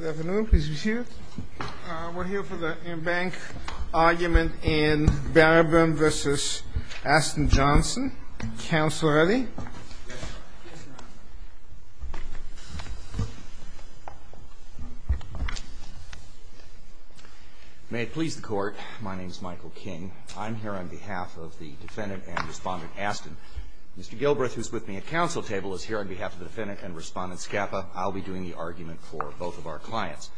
May it please the Court, my name is Michael King. I'm here on behalf of the defendant and respondent Asten. Mr. Gilbreth, who is with me at council table, is here on behalf of the defendant and respondent Scapa. I'll be doing the argument for both of our clients.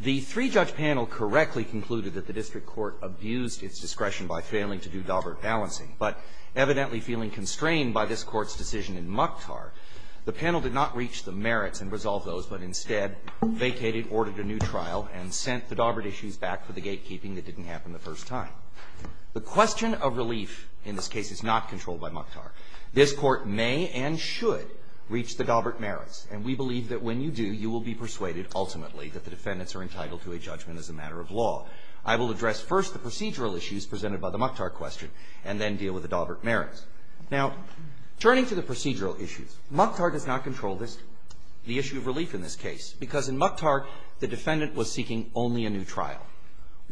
The three-judge panel correctly concluded that the district court abused its discretion by failing to do Daubert balancing, but evidently feeling constrained by this Court's decision in Mukhtar, the panel did not reach the merits and resolve those, but instead vacated, ordered a new trial, and sent the Daubert issues back for the gatekeeping that didn't happen the first time. The question of relief in this case is not controlled by Mukhtar. This Court may and should reach the Daubert merits, and we believe that when you do, you will be persuaded ultimately that the defendants are entitled to a judgment as a matter of law. I will address first the procedural issues presented by the Mukhtar question, and then deal with the Daubert merits. Now, turning to the procedural issues, Mukhtar does not control this, the issue of relief in this case, because in Mukhtar, the defendant was seeking only a new trial.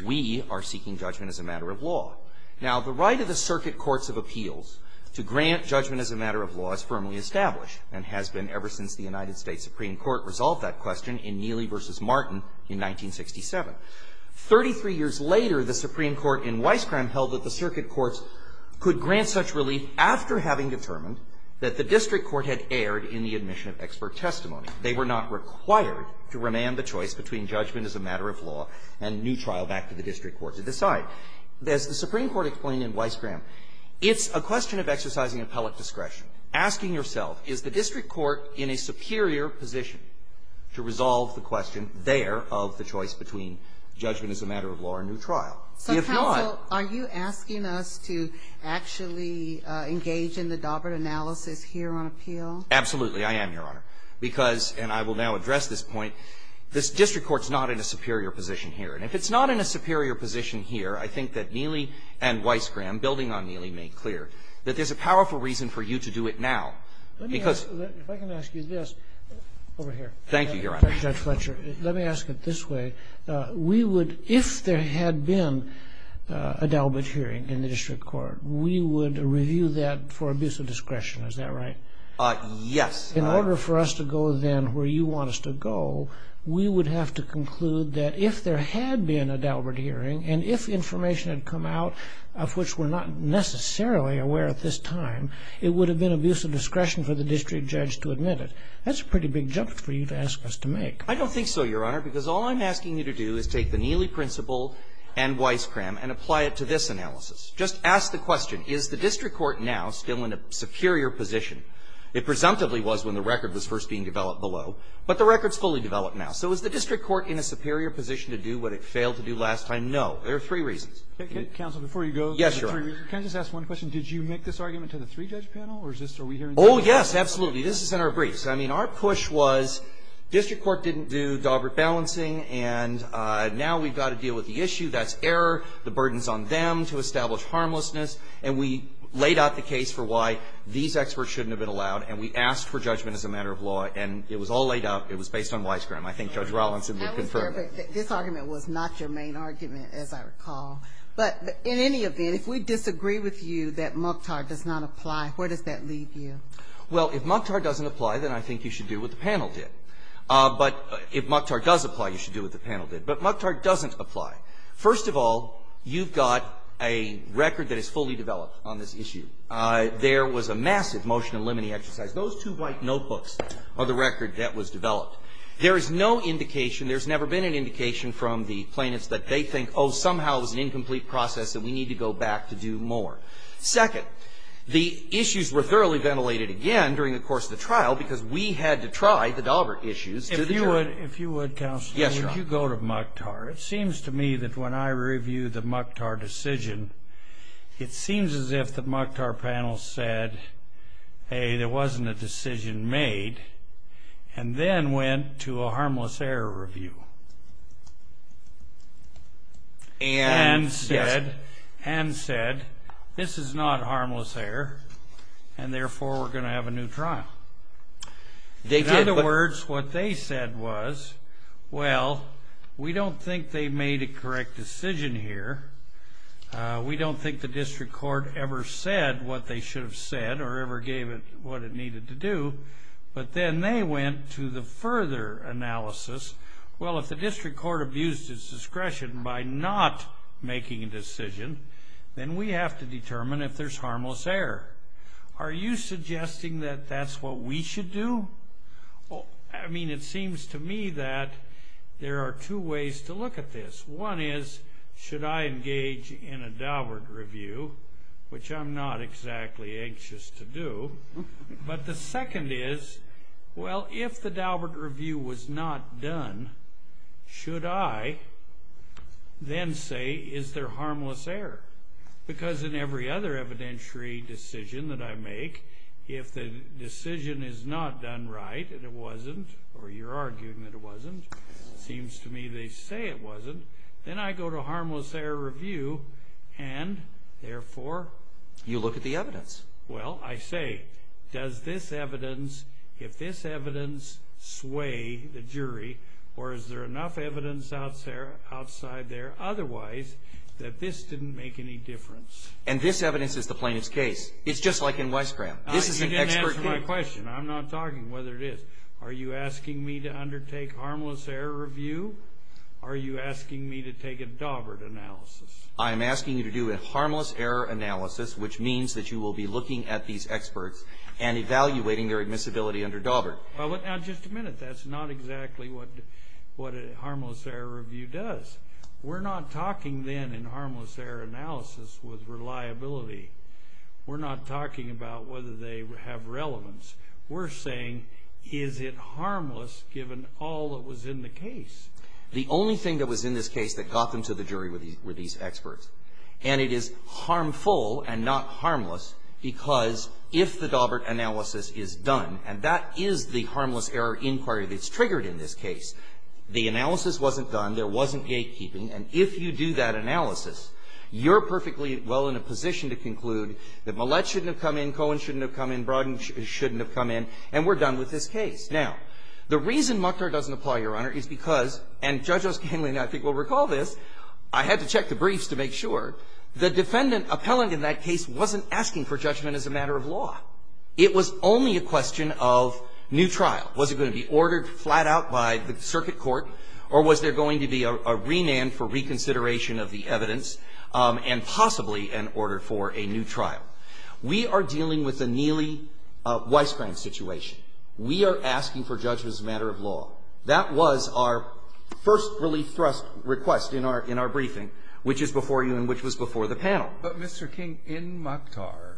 We are seeking judgment as a matter of law. Now, the right of the circuit courts of appeals to grant judgment as a matter of law is firmly established, and has been ever since the United States Supreme Court resolved that question in Neely v. Martin in 1967. Thirty-three years later, the Supreme Court in Weisskram held that the circuit courts could grant such relief after having determined that the district court had erred in the admission of expert testimony. They were not required to remand the choice between judgment as a matter of law and new trial back to the district court to decide. As the Supreme Court explained in Weisskram, it's a question of exercising appellate discretion. Asking yourself, is the district court in a superior position to resolve the question there of the choice between judgment as a matter of law and new trial? If not — So, counsel, are you asking us to actually engage in the Daubert analysis here on appeal? Absolutely. I am, Your Honor, because, and I will now address this point, this district court's not in a superior position here. And if it's not in a superior position here, I think that Neely and Weisskram, building on Neely, made clear that there's a powerful reason for you to do it now, because — Let me ask — if I can ask you this. Over here. Thank you, Your Honor. Judge Fletcher, let me ask it this way. We would — if there had been a Daubert hearing in the district court, we would review that for abuse of discretion. Is that right? Yes. In order for us to go, then, where you want us to go, we would have to conclude that if there had been a Daubert hearing and if information had come out of which we're not necessarily aware at this time, it would have been abuse of discretion for the district judge to admit it. That's a pretty big jump for you to ask us to make. I don't think so, Your Honor, because all I'm asking you to do is take the Neely principle and Weisskram and apply it to this analysis. Just ask the question, is the district court now still in a superior position? It presumptively was when the record was first being developed below. But the record's fully developed now. So is the district court in a superior position to do what it failed to do last time? No. There are three reasons. Counsel, before you go — Yes, Your Honor. Can I just ask one question? Did you make this argument to the three-judge panel, or is this — are we hearing — Oh, yes, absolutely. This is in our briefs. I mean, our push was district court didn't do Daubert balancing, and now we've got to deal with the issue. That's error. The burden's on them to establish harmlessness. And we laid out the case for why these experts shouldn't have been allowed, and we asked for judgment as a matter of law. And it was all laid out. It was based on Weisskram. I think Judge Rollins had been confirming it. I was there, but this argument was not your main argument, as I recall. But in any event, if we disagree with you that MucTAR does not apply, where does that leave you? Well, if MucTAR doesn't apply, then I think you should do what the panel did. But if MucTAR does apply, you should do what the panel did. But MucTAR doesn't apply. First of all, you've got a record that is fully developed on this issue. There was a massive motion eliminating exercise. Those two white notebooks are the record that was developed. There is no indication, there's never been an indication from the plaintiffs that they think, oh, somehow it was an incomplete process and we need to go back to do more. Second, the issues were thoroughly ventilated again during the course of the trial, because we had to try the Daubert issues to the jury. If you would, counsel, would you go to MucTAR? It seems to me that when I review the MucTAR decision, it seems as if the MucTAR panel said, hey, there wasn't a decision made, and then went to a harmless error review. And said, this is not harmless error, and therefore we're going to have a new trial. In other words, what they said was, well, we don't think they made a correct decision here. We don't think the district court ever said what they should have said or ever gave it what it needed to do. But then they went to the further analysis, well, if the district court abused its discretion by not making a decision, then we have to determine if there's harmless error. Are you suggesting that that's what we should do? I mean, it seems to me that there are two ways to look at this. One is, should I engage in a Daubert review, which I'm not exactly anxious to do. But the second is, well, if the Daubert review was not done, should I then say, is there harmless error? Because in every other evidentiary decision that I make, if the decision is not done right, and it wasn't, or you're arguing that it wasn't, it seems to me they say it wasn't, then I go to a harmless error review, and therefore? You look at the evidence. Well, I say, does this evidence, if this evidence sway the jury, or is there enough evidence outside there otherwise, that this didn't make any difference? And this evidence is the plaintiff's case. It's an expert case. You didn't answer my question. I'm not talking whether it is. Are you asking me to undertake harmless error review? Are you asking me to take a Daubert analysis? I'm asking you to do a harmless error analysis, which means that you will be looking at these experts and evaluating their admissibility under Daubert. Now, just a minute. That's not exactly what a harmless error review does. We're not talking then in harmless error analysis with reliability. We're not talking about whether they have relevance. We're saying, is it harmless, given all that was in the case? The only thing that was in this case that got them to the jury were these experts. And it is harmful and not harmless, because if the Daubert analysis is done, and that is the harmless error inquiry that's triggered in this case, the analysis wasn't done, there wasn't gatekeeping, and if you do that analysis, you're perfectly well in a position to conclude that Millett shouldn't have come in, Cohen shouldn't have come in, Brodden shouldn't have come in, and we're done with this case. Now, the reason Muckner doesn't apply, Your Honor, is because, and Judge Oskangli and I think will recall this, I had to check the briefs to make sure, the defendant appellant in that case wasn't asking for judgment as a matter of law. It was only a question of new trial. Was it going to be ordered flat out by the circuit court, or was there going to be a renan for reconsideration of the evidence, and possibly an order for a new trial? We are dealing with a Neely Weisskram situation. We are asking for judgment as a matter of law. That was our first relief thrust request in our briefing, which is before you and which was before the panel. But, Mr. King, in Muckner,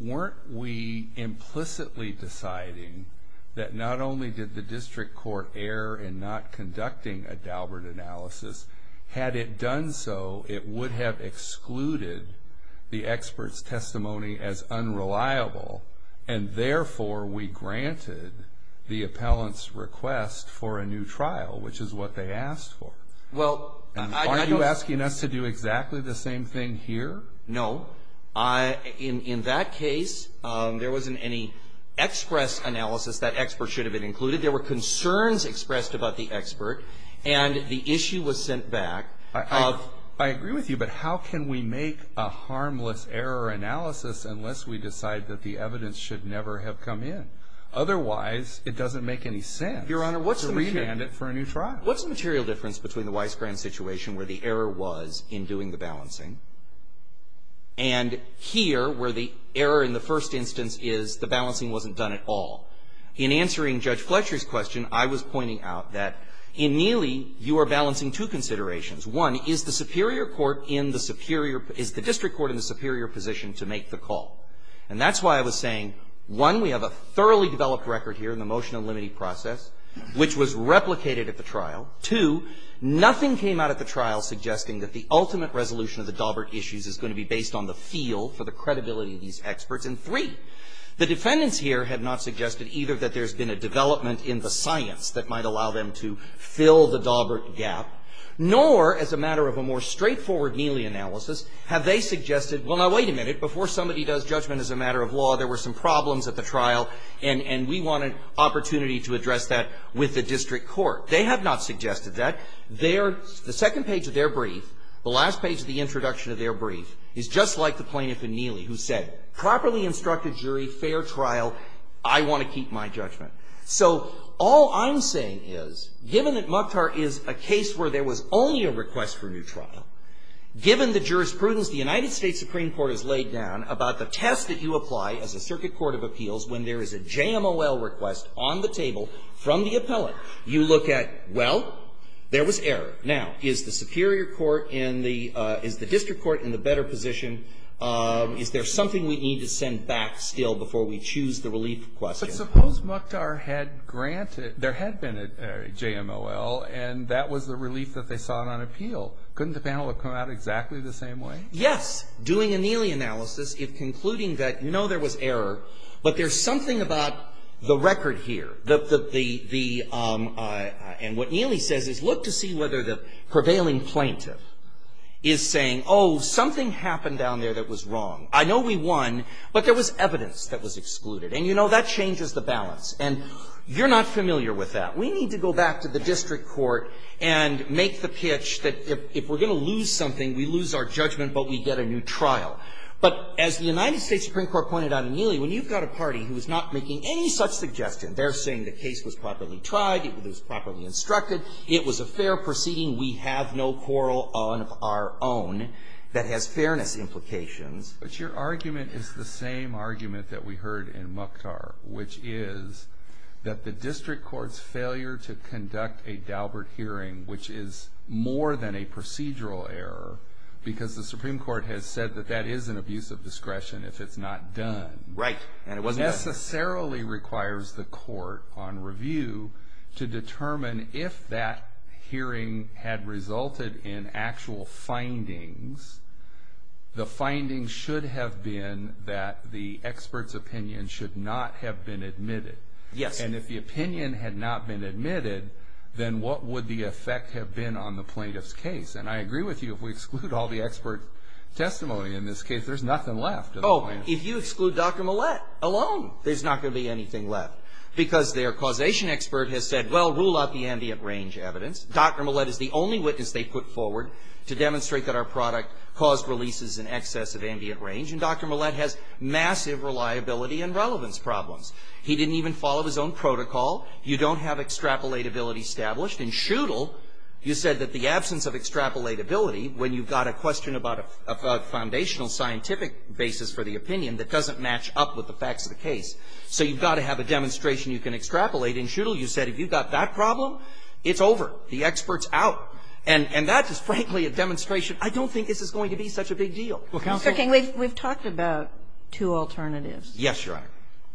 weren't we implicitly deciding that not only did the district court err in not conducting a Daubert analysis, but that the district court had not conducted a Daubert analysis. Had it done so, it would have excluded the expert's testimony as unreliable, and therefore, we granted the appellant's request for a new trial, which is what they asked for. Well, I don't... Are you asking us to do exactly the same thing here? No. In that case, there wasn't any express analysis. That expert should have been included. There were concerns expressed about the expert, and the issue was sent back of... I agree with you, but how can we make a harmless error analysis unless we decide that the evidence should never have come in? Otherwise, it doesn't make any sense to remand it for a new trial. What's the material difference between the Weisskram situation, where the error was in doing the balancing, and here, where the error in the first instance is the balancing wasn't done at all? In answering Judge Fletcher's question, I was pointing out that in Neely, you are balancing two considerations. One, is the superior court in the superior... Is the district court in the superior position to make the call? And that's why I was saying, one, we have a thoroughly developed record here in the motion and limiting process, which was replicated at the trial. Two, nothing came out at the trial. The defendants here have not suggested either that there's been a development in the science that might allow them to fill the Daubert gap, nor, as a matter of a more straightforward Neely analysis, have they suggested, well, now, wait a minute, before somebody does judgment as a matter of law, there were some problems at the trial, and we want an opportunity to address that with the district court. They have not suggested that. The second page of their brief, the last page of the introduction of their brief, is just like the plaintiff in Neely, who said, properly instructed jury, fair trial, I want to keep my judgment. So, all I'm saying is, given that Mukhtar is a case where there was only a request for new trial, given the jurisprudence the United States Supreme Court has laid down about the test that you apply as a circuit court of appeals when there is a JMOL request on the table from the appellate, you look at, well, there was error. Now, is the superior court in the, is the district court in the better position? Is there something we need to send back still before we choose the relief question? But suppose Mukhtar had granted, there had been a JMOL, and that was the relief that they sought on appeal. Couldn't the panel have come out exactly the same way? Yes. Doing a Neely analysis, if concluding that, no, there was error, but there's something about the record here. The, the, the, the, and what Neely says is, look to see whether the prevailing plaintiff is saying, oh, something happened down there that was wrong. I know we won, but there was evidence that was excluded. And you know, that changes the balance. And you're not familiar with that. We need to go back to the district court and make the pitch that if, if we're going to lose something, we lose our judgment, but we get a new trial. But as the district court is not making any such suggestion, they're saying the case was properly tried. It was properly instructed. It was a fair proceeding. We have no quarrel on our own that has fairness implications. But your argument is the same argument that we heard in Mukhtar, which is that the district court's failure to conduct a Daubert hearing, which is more than a procedural error, because the Supreme Court has said that that is an abuse of discretion if it's not done. Right. It necessarily requires the court on review to determine if that hearing had resulted in actual findings, the findings should have been that the expert's opinion should not have been admitted. Yes. And if the opinion had not been admitted, then what would the effect have been on the plaintiff's case? And I agree with you, if we exclude all the expert testimony in this case, there's nothing left. Oh, if you exclude Dr. Millett alone, there's not going to be anything left. Because their causation expert has said, well, rule out the ambient range evidence. Dr. Millett is the only witness they put forward to demonstrate that our product caused releases in excess of ambient range. And Dr. Millett has massive reliability and relevance problems. He didn't even follow his own protocol. You don't have extrapolatability established. In Schuttle, you said that the absence of extrapolatability, when you've got a question about a foundational scientific basis for the opinion that doesn't match up with the facts of the case. So you've got to have a demonstration you can extrapolate. In Schuttle, you said if you've got that problem, it's over. The expert's out. And that is, frankly, a demonstration, I don't think this is going to be such a big deal. Well, counsel ---- Mr. King, we've talked about two alternatives. Yes, Your Honor.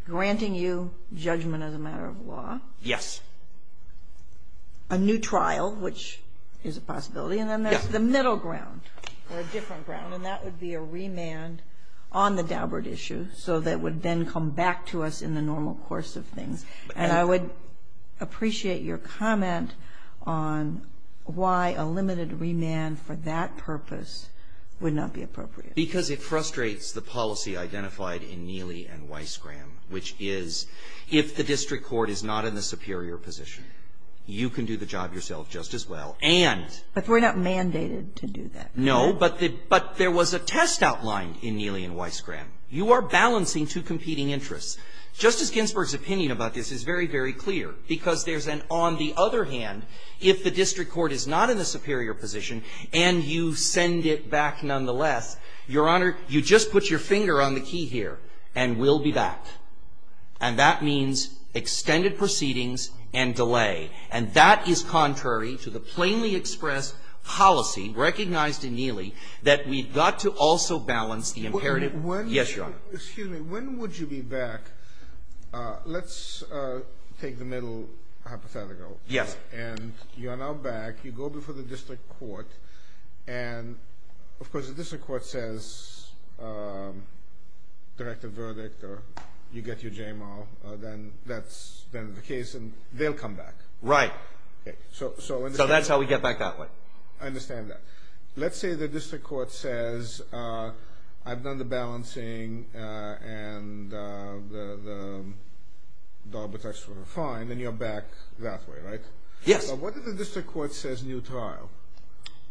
Granting you judgment as a matter of law. Yes. A new trial, which is a possibility. Yes. And then there's the middle ground, or a different ground, and that would be a remand on the Daubert issue, so that would then come back to us in the normal course of things. And I would appreciate your comment on why a limited remand for that purpose would not be appropriate. Because it frustrates the policy identified in Neely and Weissgram, which is, if the district court is not in the superior position, you can do the job yourself just as well. And ---- But we're not mandated to do that. No, but there was a test outlined in Neely and Weissgram. You are balancing two competing interests. Justice Ginsburg's opinion about this is very, very clear, because there's an on the other hand, if the district court is not in the superior position, and you send it back nonetheless, Your Honor, you just put your finger on the key here, and we'll be back. And that means extended proceedings and delay. And that is contrary to the plainly expressed policy recognized in Neely that we've got to also balance the imperative. Yes, Your Honor. Excuse me. When would you be back? Let's take the middle hypothetical. Yes. And you are now back. You go before the district court. And, of course, the district court says, direct a verdict, or you get your JMR, then that's the end of the case, and they'll come back. Right. So that's how we get back that way. I understand that. Let's say the district court says, I've done the balancing, and the arbitration is fine, then you're back that way, right? Yes. But what if the district court says, new trial?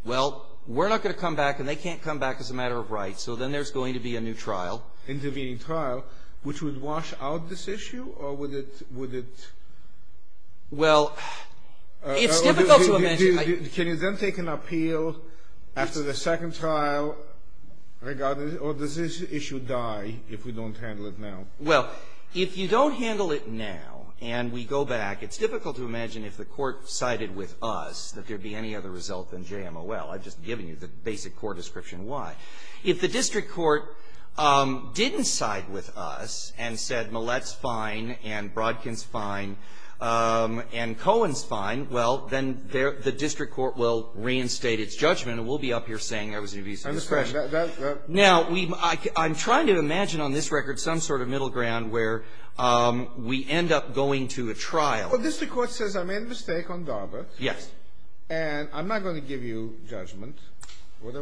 Well, we're not going to come back, and they can't come back as a matter of rights, so then there's going to be a new trial. Intervening trial, which would wash out this issue, or would it? Well, it's difficult to imagine. Can you then take an appeal after the second trial, or does this issue die if we don't handle it now? Well, if you don't handle it now, and we go back, it's difficult to imagine if the court sided with us that there'd be any other result than JMOL. I've just given you the basic court description why. If the district court didn't side with us, and said Millett's fine, and Brodkin's fine, and Cohen's fine, well, then the district court will reinstate its judgment, and we'll be up here saying there was an abuse of discretion. I understand. Now, I'm trying to imagine on this record some sort of middle ground where we end up going to a trial. Well, district court says, I made a mistake on Darbert. Yes. And I'm not going to give you judgment, but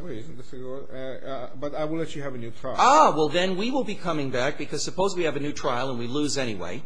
I will let you have a new trial. Ah, well, then we will be coming back, because suppose we have a new trial and we lose anyway,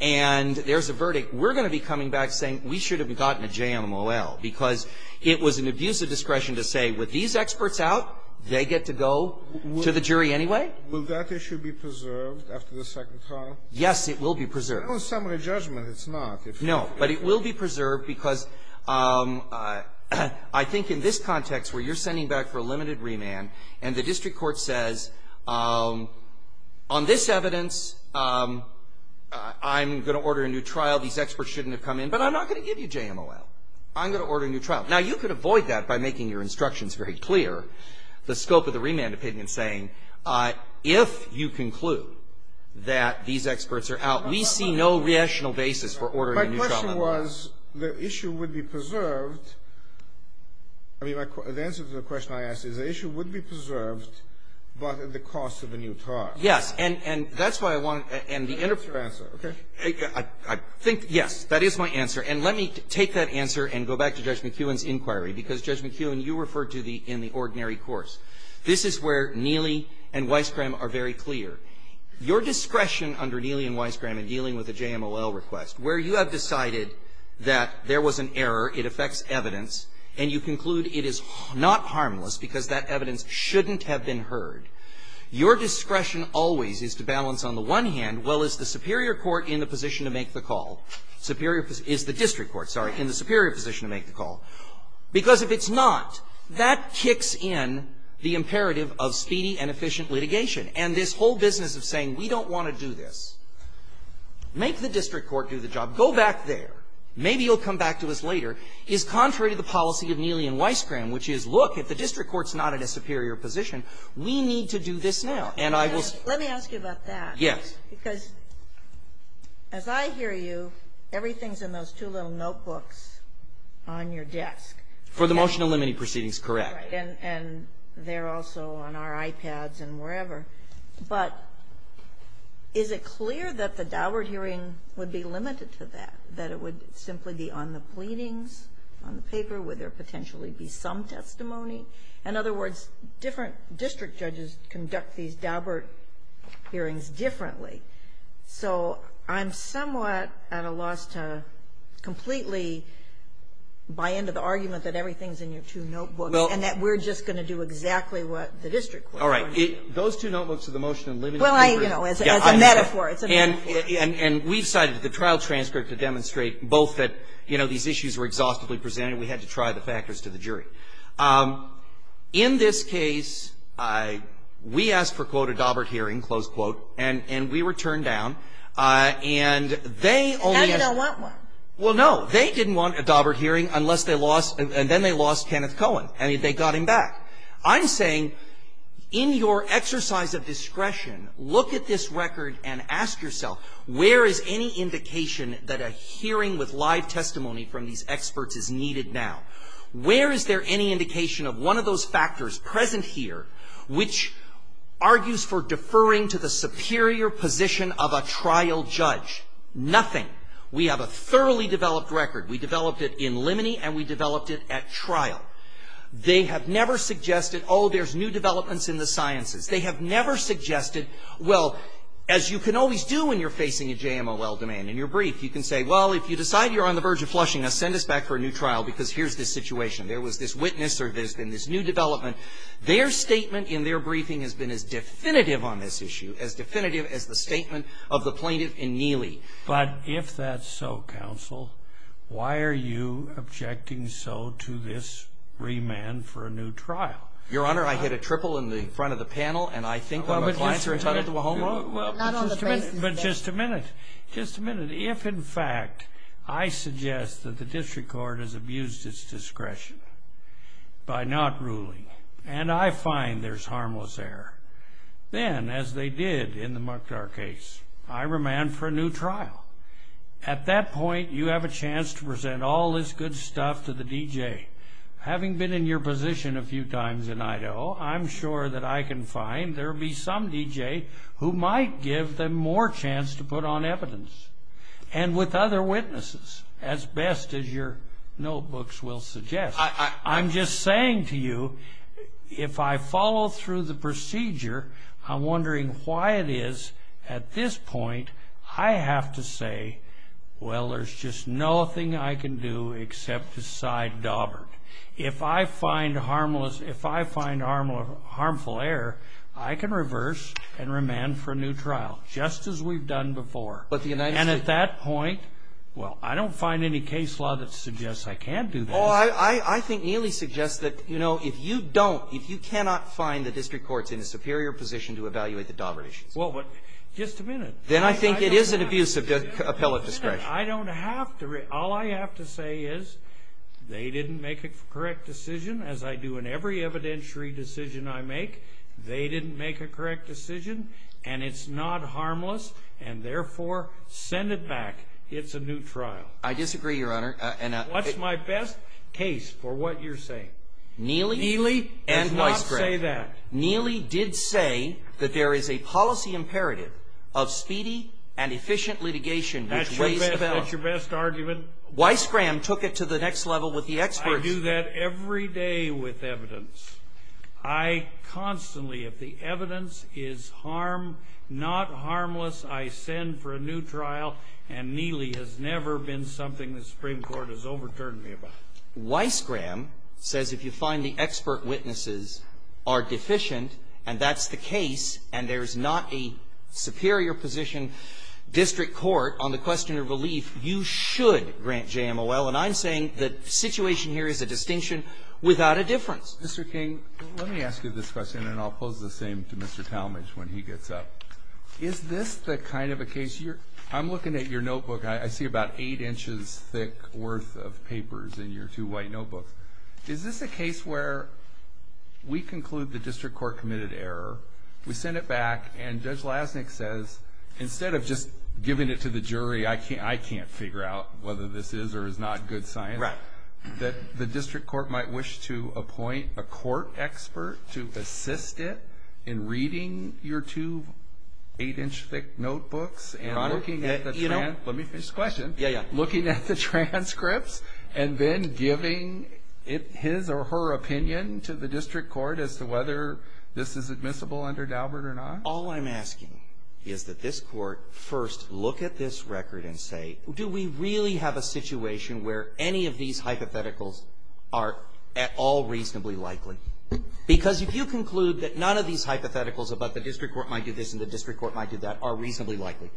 and there's a verdict. We're going to be coming back saying we should have gotten a JMOL, because it was an abuse of discretion to say, with these experts out, they get to go to the jury anyway? Will that issue be preserved after the second trial? Yes, it will be preserved. On summary judgment, it's not. No, but it will be preserved, because I think in this context where you're sending back for a limited remand, and the district court says, on this evidence, I'm going to order a new trial, these experts shouldn't have come in, but I'm not going to give you JMOL. I'm going to order a new trial. Now, you could avoid that by making your instructions very clear, the scope of the remand opinion saying, if you conclude that these experts are out, we see no rational basis for ordering a new trial. My question was, the issue would be preserved. I mean, the answer to the question I asked is, the issue would be preserved, but at the cost of a new trial. Yes, and that's why I want to end the interview. That's your answer, okay? I think, yes, that is my answer. And let me take that answer and go back to Judge McEwen's inquiry, because, Judge McEwen, you referred to the ordinary course. This is where Neely and Weisskram are very clear. Your discretion under Neely and Weisskram, where you have decided that there was an error, it affects evidence, and you conclude it is not harmless because that evidence shouldn't have been heard, your discretion always is to balance on the one hand, well, is the superior court in the position to make the call, is the district court, sorry, in the superior position to make the call? Because if it's not, that kicks in the imperative of speedy and efficient litigation. And this whole business of saying, we don't want to do this, make the district court do the job, go back there, maybe you'll come back to us later, is contrary to the policy of Neely and Weisskram, which is, look, if the district court's not in a superior position, we need to do this now. And I will say ---- Let me ask you about that. Yes. Because as I hear you, everything's in those two little notebooks on your desk. For the motion to eliminate proceedings, correct. And they're also on our iPads and wherever. But is it clear that the Daubert hearing would be limited to that, that it would simply be on the pleadings, on the paper, would there potentially be some testimony? In other words, different district judges conduct these Daubert hearings differently. So I'm somewhat at a loss to completely buy into the argument that everything's in your two notebooks. Well ---- And that we're just going to do exactly what the district court wants to do. All right. Those two notebooks are the motion to eliminate the jury. Well, I, you know, as a metaphor, it's a metaphor. And we've cited the trial transcript to demonstrate both that, you know, these issues were exhaustively presented. We had to try the factors to the jury. In this case, we asked for, quote, a Daubert hearing, close quote, and we were turned down. And they only ---- And I didn't want one. Well, no. They didn't want a Daubert hearing unless they lost, and then they got him back. I'm saying, in your exercise of discretion, look at this record and ask yourself, where is any indication that a hearing with live testimony from these experts is needed now? Where is there any indication of one of those factors present here which argues for deferring to the superior position of a trial judge? Nothing. We have a thoroughly developed record. We developed it in limine, and we developed it at trial. They have never suggested, oh, there's new developments in the sciences. They have never suggested, well, as you can always do when you're facing a JMOL demand in your brief, you can say, well, if you decide you're on the verge of flushing us, send us back for a new trial because here's the situation. There was this witness or there's been this new development. Their statement in their briefing has been as definitive on this issue, as definitive as the statement of the plaintiff in Neely. But if that's so, counsel, why are you objecting so to this remand for a new trial? Your Honor, I hit a triple in the front of the panel, and I think that my clients are entitled to a home run. But just a minute. Just a minute. If, in fact, I suggest that the district court has abused its discretion by not ruling, and I find there's harmless error, then, as they did in the Mukdar case, I remand for a new trial. At that point, you have a chance to present all this good stuff to the DJ. Having been in your position a few times in Idaho, I'm sure that I can find there will be some DJ who might give them more chance to put on evidence, and with other witnesses, as best as your notebooks will suggest. I'm just saying to you, if I follow through the procedure, I'm wondering why it is at this point I have to say, well, there's just nothing I can do except to side-daubert. If I find harmful error, I can reverse and remand for a new trial, just as we've done before. But the United States... And at that point, well, I don't find any case law that suggests I can't do this. Well, I think Neely suggests that if you don't, if you cannot find the district courts in a superior position to evaluate the daubert issues... Well, but, just a minute. Then I think it is an abuse of appellate discretion. I don't have to. All I have to say is they didn't make a correct decision, as I do in every evidentiary decision I make. They didn't make a correct decision, and it's not harmless, and therefore, send it back. It's a new trial. I disagree, Your Honor. What's my best case for what you're saying? Neely... Neely and Weissgram. Do not say that. Neely did say that there is a policy imperative of speedy and efficient litigation... That's your best argument? Weissgram took it to the next level with the experts. I do that every day with evidence. I constantly, if the evidence is not harmless, I send for a new trial, and Neely has never been something the Supreme Court has overturned me about. Weissgram says if you find the expert witnesses are deficient, and that's the case, and there's not a superior position district court on the question of relief, you should grant JMOL. And I'm saying the situation here is a distinction without a difference. Mr. King, let me ask you this question, and I'll pose the same to Mr. Talmadge when he gets up. Is this the kind of a case... I'm looking at your notebook. I see about 8 inches thick worth of papers in your two white notebooks. Is this a case where we conclude the district court committed error, we send it back, and Judge Lasnik says, instead of just giving it to the jury, I can't figure out whether this is or is not good science, that the district court might wish to appoint a court expert to assist it in reading your two 8-inch thick notebooks and looking at the transcripts and then giving his or her opinion to the district court as to whether this is admissible under Daubert or not? All I'm asking is that this court first look at this record and say, do we really have a situation where any of these hypotheticals are at all reasonably likely? Because if you conclude that none of these hypotheticals about the district court might do this and the district court might do that are reasonably likely,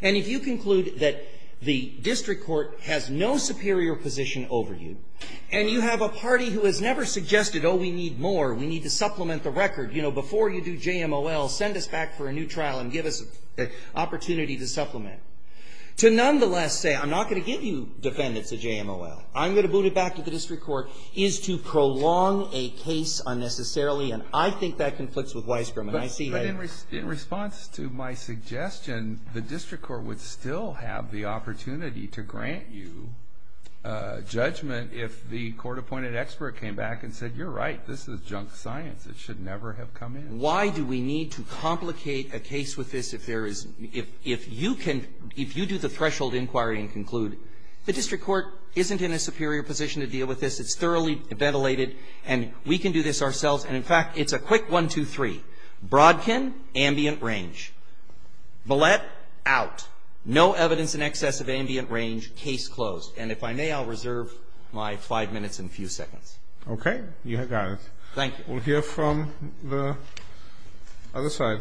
and if you conclude that the district court has no superior position over you, and you have a party who has never suggested, oh, we need more, we need to supplement the record, you know, before you do JMOL, send us back for a new trial and give us an opportunity to supplement, to nonetheless say, I'm not going to give you defendants at JMOL. I'm going to boot it back to the district court, is to prolong a case unnecessarily, and I think that conflicts with Weisbrot. But in response to my suggestion, the district court would still have the opportunity to grant you judgment if the court-appointed expert came back and said, you're right, this is junk science. It should never have come in. Why do we need to complicate a case with this if there is, if you can, if you do the threshold inquiry and conclude the district court isn't in a superior position to deal with this, it's thoroughly ventilated, and we can do this ourselves, and in fact, it's a quick one, two, three. Brodkin, ambient range. Bullett, out. No evidence in excess of ambient range. Case closed. And if I may, I'll reserve my five minutes and a few seconds. Okay. You have got it. Thank you. We'll hear from the other side.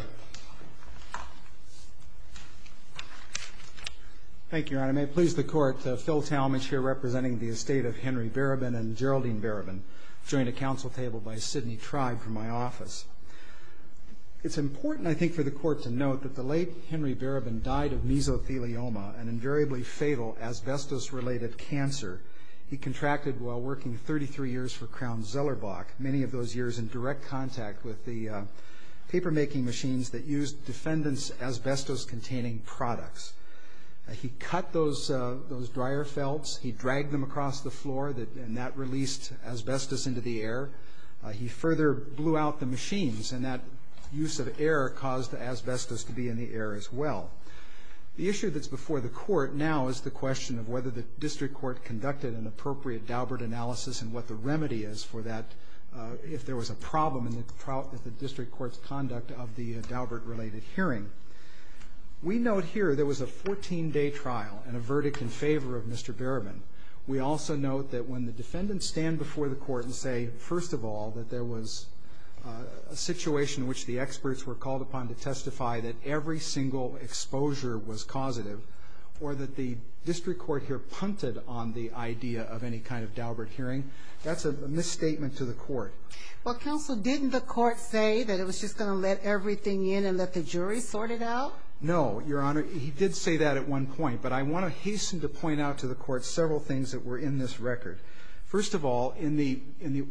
Thank you, Your Honor. May it please the Court, Phil Talmadge here representing the estate of Henry Barabin and Geraldine Barabin, joined at council table by a Sydney tribe from my office. It's important, I think, for the Court to note that the late Henry Barabin died of mesothelioma, an invariably fatal asbestos-related cancer. He contracted while working 33 years for Crown-Zellerbach, many of those years in direct contact with the papermaking machines that used defendants' asbestos-containing products. He cut those dryer felts, he dragged them across the floor, and that released asbestos into the air. He further blew out the machines, and that use of air caused the asbestos to be in the air as well. The issue that's before the Court now is the question of whether the District Court conducted an appropriate Daubert analysis and what the remedy is for that, if there was a problem in the District Court's conduct of the Daubert-related hearing. We note here there was a 14-day trial and a verdict in favor of Mr. Barabin. We also note that when the defendants stand before the Court and say, first of all, that there was a situation in which the experts were called upon to testify that every single exposure was causative, or that the District Court here punted on the idea of any kind of Daubert hearing, that's a misstatement to the Court. Well, Counsel, didn't the Court say that it was just going to let everything in and let the jury sort it out? No, Your Honor. He did say that at one point. But I want to hasten to point out to the Court several things that were in this record. First of all, in the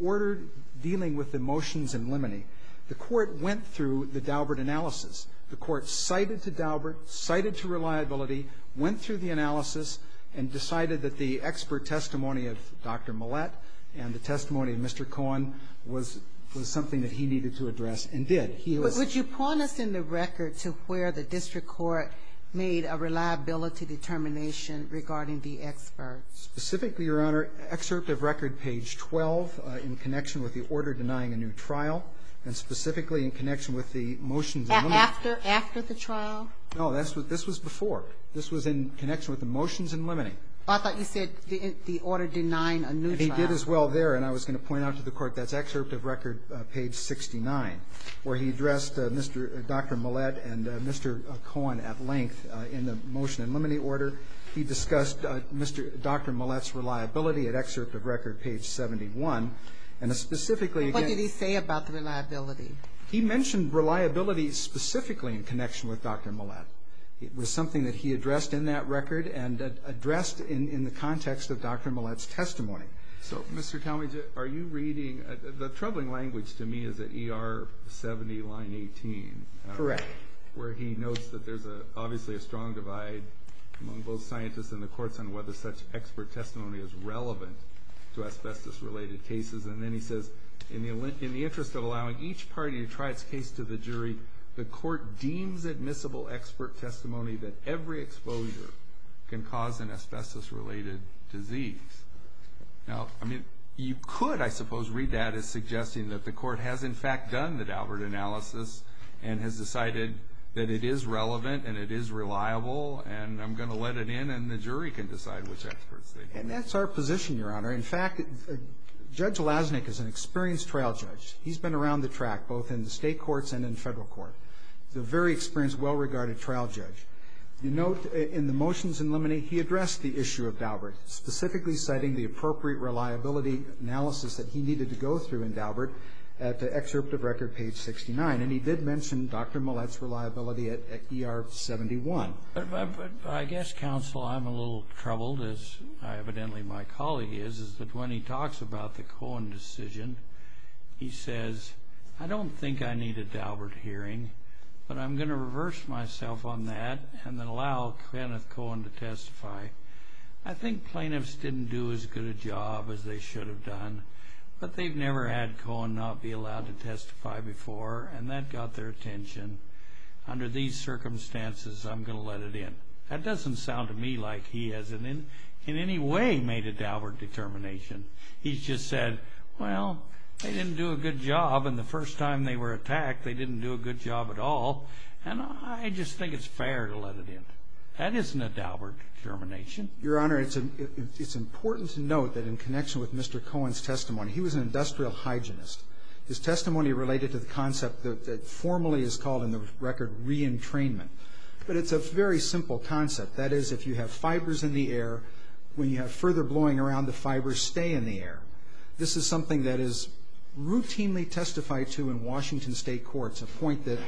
order dealing with the motions in limine, the Court went through the Daubert analysis. The Court cited to Daubert, cited to Reliability, went through the analysis, and decided that the expert testimony of Dr. Millett and the testimony of Mr. Cohen was something that he needed to address and did. But would you point us in the record to where the District Court made a reliability determination regarding the experts? Specifically, Your Honor, excerpt of record page 12 in connection with the order denying a new trial, and specifically in connection with the motions in limine. After the trial? No, this was before. This was in connection with the motions in limine. I thought you said the order denying a new trial. He did as well there, and I was going to point out to the Court that's excerpt of record page 69 where he addressed Dr. Millett and Mr. Cohen at length in the motion in limine order. He discussed Dr. Millett's reliability at excerpt of record page 71. And specifically... What did he say about the reliability? He mentioned reliability specifically in connection with Dr. Millett. It was something that he addressed in that record and addressed in the context of Dr. Millett's testimony. So, Mr. Talmadge, are you reading... The troubling language to me is at ER 70, line 18. Correct. Where he notes that there's obviously a strong divide among both scientists and the courts on whether such expert testimony is relevant to asbestos-related cases. And then he says, in the interest of allowing each party to try its case to the jury, the court deems admissible expert testimony that every exposure can cause an asbestos-related disease. Now, I mean, you could, I suppose, read that as suggesting that the court has, in fact, done the Daubert analysis and has decided that it is relevant and it is reliable and I'm going to let it in and the jury can decide which experts they... And that's our position, Your Honor. In fact, Judge Lasnik is an experienced trial judge. He's been around the track, both in the state courts and in federal court. He's a very experienced, well-regarded trial judge. You note, in the motions in limine, he addressed the issue of Daubert, specifically citing the appropriate reliability analysis that he needed to go through in Daubert at excerpt of record page 69, and he did mention Dr. Millett's reliability at ER 71. But I guess, counsel, I'm a little troubled, as evidently my colleague is, is that when he talks about the Cohen decision, he says, I don't think I need a Daubert hearing, but I'm going to reverse myself on that and then allow Kenneth Cohen to testify. I think plaintiffs didn't do as good a job as they should have done, but they've never had Cohen not be allowed to testify before, and that got their attention. Under these circumstances, I'm going to let it in. That doesn't sound to me like he has in any way made a Daubert determination. He's just said, well, they didn't do a good job, and the first time they were attacked, they didn't do a good job at all, and I just think it's fair to let it in. That isn't a Daubert determination. Your Honor, it's important to note that in connection with Mr. Cohen's testimony, he was an industrial hygienist. His testimony related to the concept that formally is called in the record re-entrainment, but it's a very simple concept. That is, if you have fibers in the air, when you have further blowing around the fibers, the fibers stay in the air. This is something that is routinely testified to in Washington state courts, a point that,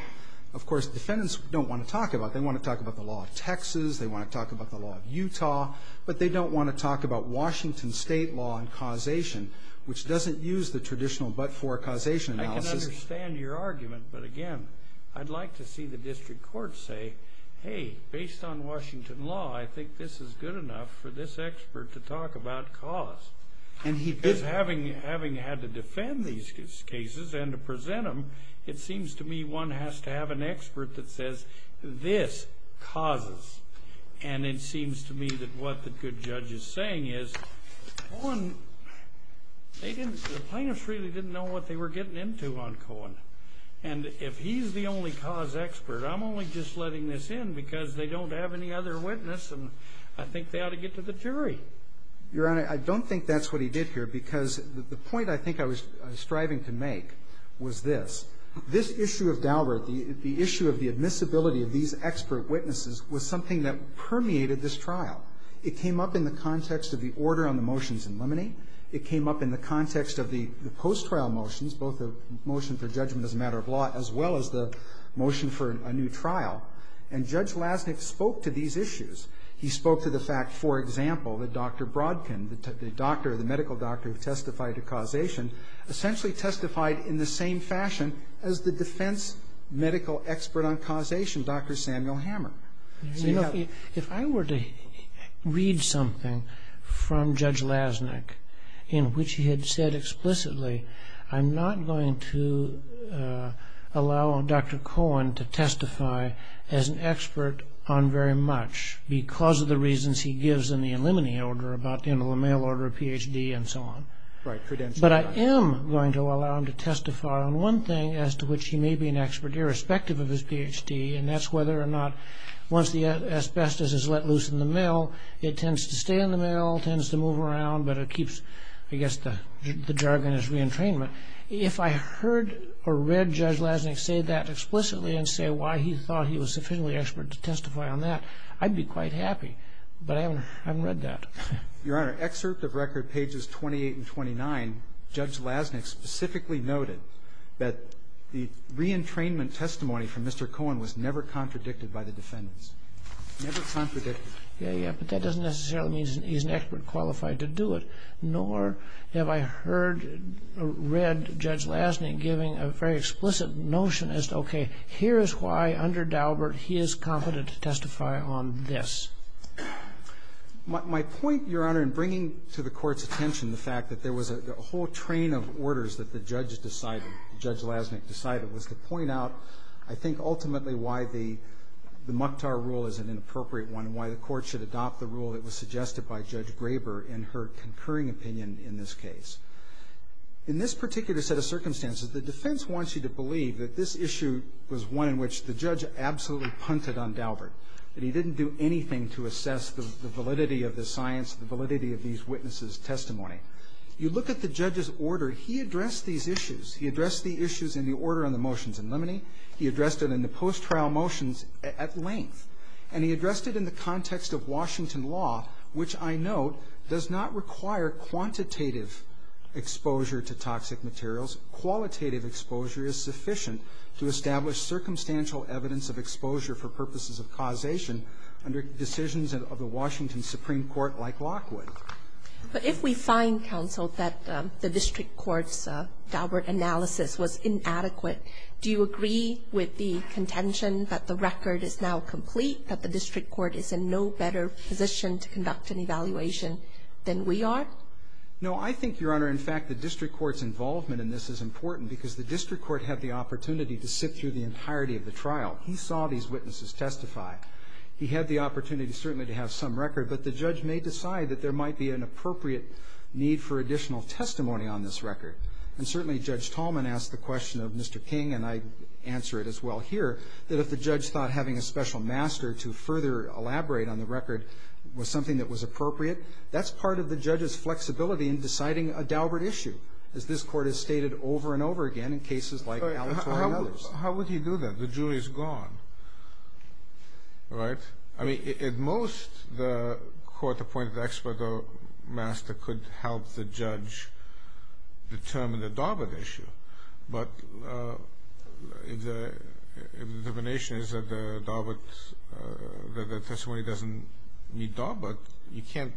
of course, defendants don't want to talk about. They want to talk about the law of Texas, they want to talk about the law of Utah, but they don't want to talk about Washington state law and causation, which doesn't use the traditional but-for-causation analysis. I can understand your argument, but again, I'd like to see the district courts say, hey, based on Washington law, I think this is good enough for this expert to talk about cause. Because having had to defend these cases and to present them, it seems to me one has to have an expert that says, this causes. And it seems to me that what the good judge is saying is, Cohen... The plaintiffs really didn't know what they were getting into on Cohen. And if he's the only cause expert, I'm only just letting this in because they don't have any other witness and I think they ought to get to the jury. Your Honor, I don't think that's what he did here because the point I think I was striving to make was this. This issue of Dalbert, the issue of the admissibility of these expert witnesses was something that permeated this trial. It came up in the context of the order on the motions in limine. It came up in the context of the post-trial motions, both the motion for judgment as a matter of law as well as the motion for a new trial. And Judge Lasnik spoke to these issues. He spoke to the fact, for example, that Dr. Brodkin, the doctor, the medical doctor who testified to causation, essentially testified in the same fashion as the defense medical expert on causation, Dr. Samuel Hammer. If I were to read something from Judge Lasnik in which he had said explicitly, I'm not going to allow Dr. Cohen to testify as an expert on very much because of the reasons he gives in the limine order about the end of the mail order, Ph.D., and so on. But I am going to allow him to testify on one thing as to which he may be an expert irrespective of his Ph.D., and that's whether or not once the asbestos is let loose in the mail, it tends to stay in the mail, tends to move around, but it keeps, I guess, the jargon as reentrainment. If I heard or read Judge Lasnik say that explicitly and say why he thought he was sufficiently expert to testify on that, I'd be quite happy, but I haven't read that. Your Honor, excerpt of record pages 28 and 29, Judge Lasnik specifically noted that the reentrainment testimony from Mr. Cohen was never contradicted by the defendants. Never contradicted. Yeah, yeah, but that doesn't necessarily mean he's an expert qualified to do it, nor have I heard or read Judge Lasnik giving a very explicit notion as to, okay, here is why under Daubert he is competent to testify on this. My point, Your Honor, in bringing to the Court's attention the fact that there was a whole train of orders that the judge decided, Judge Lasnik decided, was to point out, I think, ultimately, why the Mukhtar rule is an inappropriate one and why the Court should adopt the rule that was suggested by Judge Graber in her concurring opinion in this case. In this particular set of circumstances, the defense wants you to believe that this issue was one in which the judge absolutely punted on Daubert, that he didn't do anything to assess the validity of the science, the validity of these witnesses' testimony. You look at the judge's order, he addressed these issues. He addressed the issues in the order on the motions in limine, he addressed it in the post-trial motions at length, and he addressed it in the context of Washington law, which I note does not require quantitative exposure to toxic materials. Qualitative exposure is sufficient to establish circumstantial evidence of exposure for purposes of causation under decisions of the Washington Supreme Court like Lockwood. But if we find, Counsel, that the district court's Daubert analysis was inadequate, do you agree with the contention that the record is now complete, that the district court is in no better position to conduct an evaluation than we are? No, I think, Your Honor, in fact, the district court's involvement in this is important because the district court had the opportunity to sit through the entirety of the trial. He saw these witnesses testify. He had the opportunity certainly to have some record, but the judge may decide that there might be an appropriate need for additional testimony on this record. And certainly Judge Tallman asked the question of Mr. King and I answer it as well here that if the judge thought having a special master to further elaborate on the record was something that was appropriate, that's part of the judge's flexibility in deciding a Daubert issue. As this court has stated over and over again in cases like Alatorre and others. How would he do that? The jury's gone, right? I mean, at most, the court appointed expert or master could help the judge determine the Daubert issue, but if the determination is that the testimony doesn't need Daubert, you can't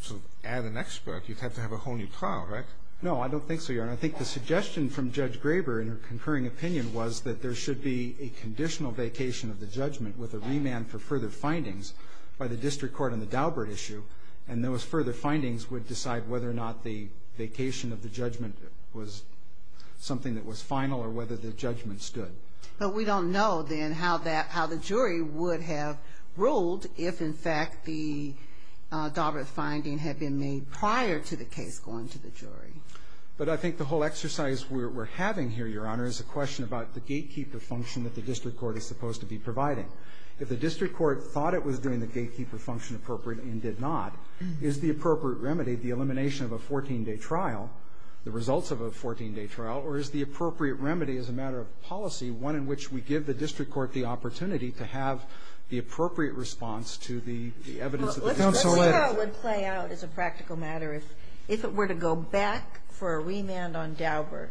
sort of add an expert. You'd have to have a whole new trial, right? No, I don't think so, Your Honor. I think the suggestion from Judge Graber in her concurring opinion was that there should be a conditional vacation of the judgment with a remand for further findings by the district court on the Daubert issue and those further findings would decide whether or not the vacation of the judgment was something that was final or whether the judgment stood. But we don't know then how the jury would have ruled if in fact the Daubert finding had been made prior to the case going to the jury. But I think the whole exercise we're having here, Your Honor, is a question about the gatekeeper function that the district court is supposed to be providing. If the district court thought it was doing the gatekeeper function appropriately and did not, is the appropriate remedy the elimination of a 14-day trial, the results of a 14-day trial, or is the appropriate remedy as a matter of policy one in which we give the district court the opportunity to have the appropriate response to the evidence of the district court. Well, the playout would play out as a practical matter if it were to go back for a remand on Daubert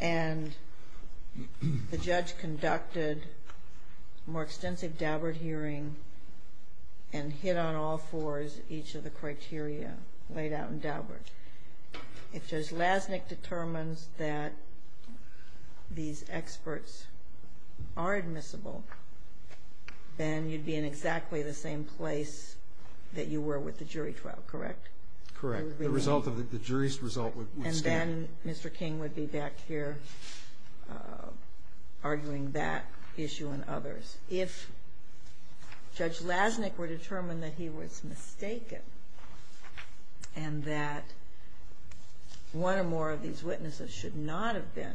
and the judge conducted a more extensive Daubert hearing and hit on all fours each of the criteria laid out in Daubert. If Judge Lasnik determines that these experts are admissible, then you'd be in exactly the same place that you were with the jury trial, correct? Correct. The jury's result would stand. And then Mr. King would be back here arguing that issue and others. If Judge Lasnik were determined that he was mistaken and that one or more of these witnesses should not have been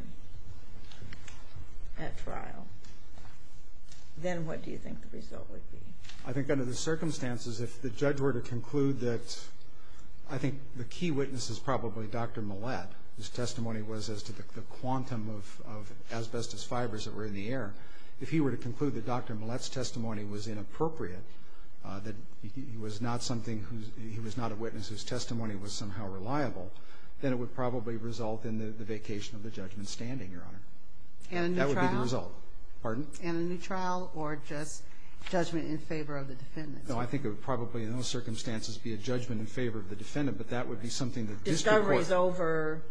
at trial, then what do you think the result would be? I think under the circumstances if the judge were to conclude that I think the key witness is probably Dr. Millett, whose testimony was as to the quantum of asbestos fibers that were in the air, if he were to conclude that Dr. Millett's testimony was inappropriate, that he was not a witness whose testimony was somehow reliable, then it would probably result in the vacation of the judgment standing, Your Honor. And a new trial? That would be the result. Pardon? And a new trial or just judgment in favor of the defendants? No, I think it would probably in those circumstances be a judgment in favor of the defendant, but that would be something that the district court Discovery is over.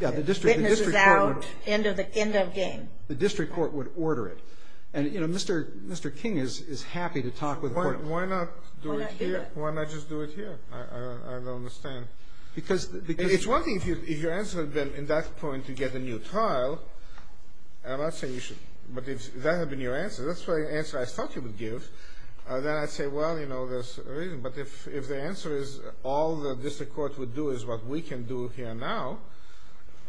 Yeah, the district court Witnesses out. End of game. The district court would order it. And, you know, Mr. King is happy to talk with the court. Why not do it here? Why not do that? Why not just do it here? I don't understand. Because It's one thing if your answer would have been in that point to get a new trial, and I'm not saying you should, but if that had been your answer, that's the answer I thought you would give, then I'd say, well, you know, there's a reason. But if the answer is all the district court would do is what we can do here now,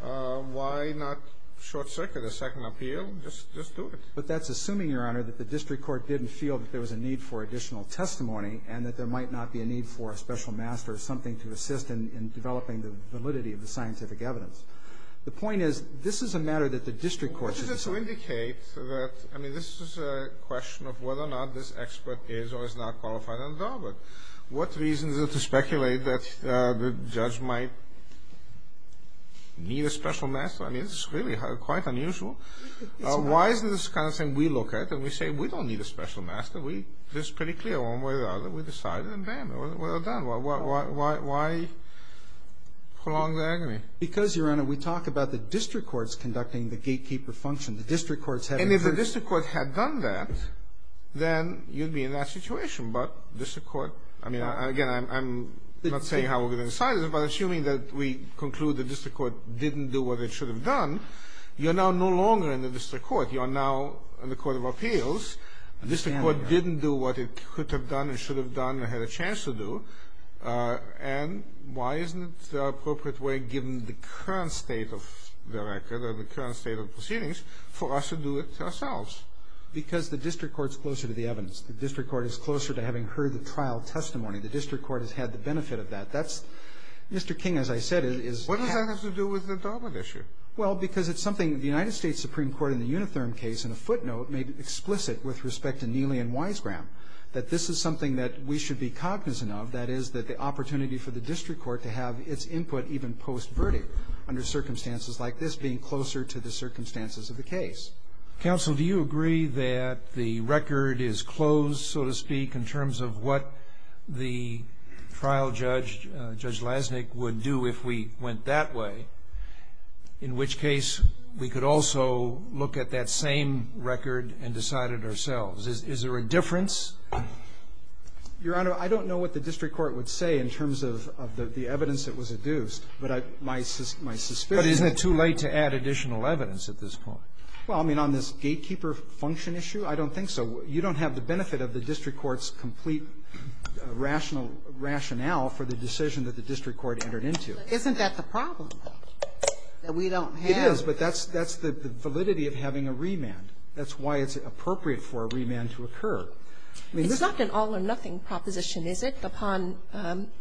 why not short circuit a second appeal? Just do it. But that's assuming, Your Honor, that the district court didn't feel that there was a need for additional testimony and that there might not be a need for a special master or something to assist in developing the validity of the scientific evidence. The point is, this is a matter that the district court should decide. It should indicate that, I mean, this is a question of whether or not this expert is or is not qualified on the job. What reason is it to speculate that the judge might need a special master? I mean, this is really quite unusual. Why is this the kind of thing we look at and we say, we don't need a special master? This is pretty clear one way or the other. We decided, and bam, well done. Why prolong the agony? Because, Your Honor, we talk about the district court's conducting the gatekeeper function. The district court's having first- And if the district court had done that, then you'd be in that situation. But district court, I mean, again, I'm not saying how we're going to decide this, but assuming that we conclude the district court didn't do what it should have done, you're now no longer in the district court. You are now in the court of appeals. The district court didn't do what it could have done or should have done or had a chance to do, and why isn't the appropriate way given the current state of the record or the current state of proceedings for us to do it ourselves? Because the district court's closer to the evidence. The district court is closer to having heard the trial testimony. The district court has had the benefit of that. That's- Mr. King, as I said, is- What does that have to do with the Darwin issue? Well, because it's something the United States Supreme Court in the Unitherm case in a footnote made explicit with respect to Neely and Weisgram that this is something that we should be cognizant of, that is, that the opportunity for the district court to have its input even post-verdict under circumstances like this being closer to the circumstances of the case. Counsel, do you agree that the record is closed, so to speak, in terms of what the trial judge, Judge Lasnik, would do if we went that way, in which case we could also look at that same record and decide it ourselves? Is there a difference? Your Honor, I don't know what the district court would say in terms of the evidence that was adduced, but my suspicion- But isn't it too late to add additional evidence at this point? Well, I mean, on this gatekeeper function issue, I don't think so. You don't have the benefit of the district court's complete rational- rationale for the decision that the district court entered into. Isn't that the problem, though, that we don't have- the possibility of having a remand? That's why it's appropriate for a remand to occur. It's not an all-or-nothing proposition, is it? Upon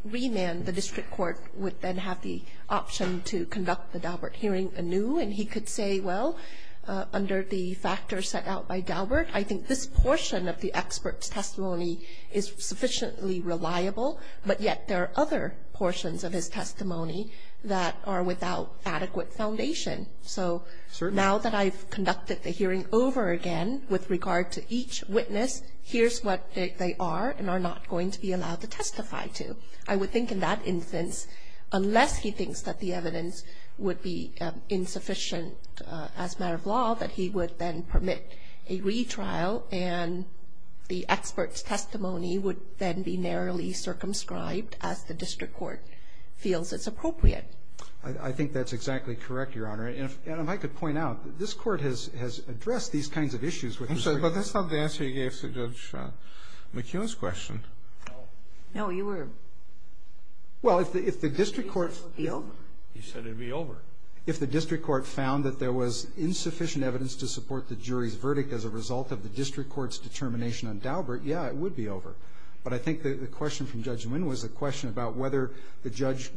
remand, the district court would then have the option to conduct the Daubert hearing anew, and he could say, well, under the factors set out by Daubert, I think this portion of the expert's testimony is sufficiently reliable, but yet there are other portions of his testimony that are without adequate foundation. So- Certainly. Now that I've conducted the hearing over again with regard to each witness, here's what they are and are not going to be allowed to testify to. I would think in that instance, unless he thinks that the evidence would be insufficient as a matter of law, that he would then permit a retrial and the expert's testimony would then be narrowly circumscribed as the district court feels is appropriate. I think that's exactly correct, Your Honor. And if- if I could point out, this court has- has addressed these kinds of issues with respect- I'm sorry, but that's not the answer you gave to Judge McEwen's question. No, you were- Well, if the- if the district court- It would be over. He said it would be over. If the district court found that there was insufficient evidence to support the jury's verdict as a result of the district court's determination on Daubert, yeah, it would be over. But I think the question from Judge Nguyen was a question about whether the judge-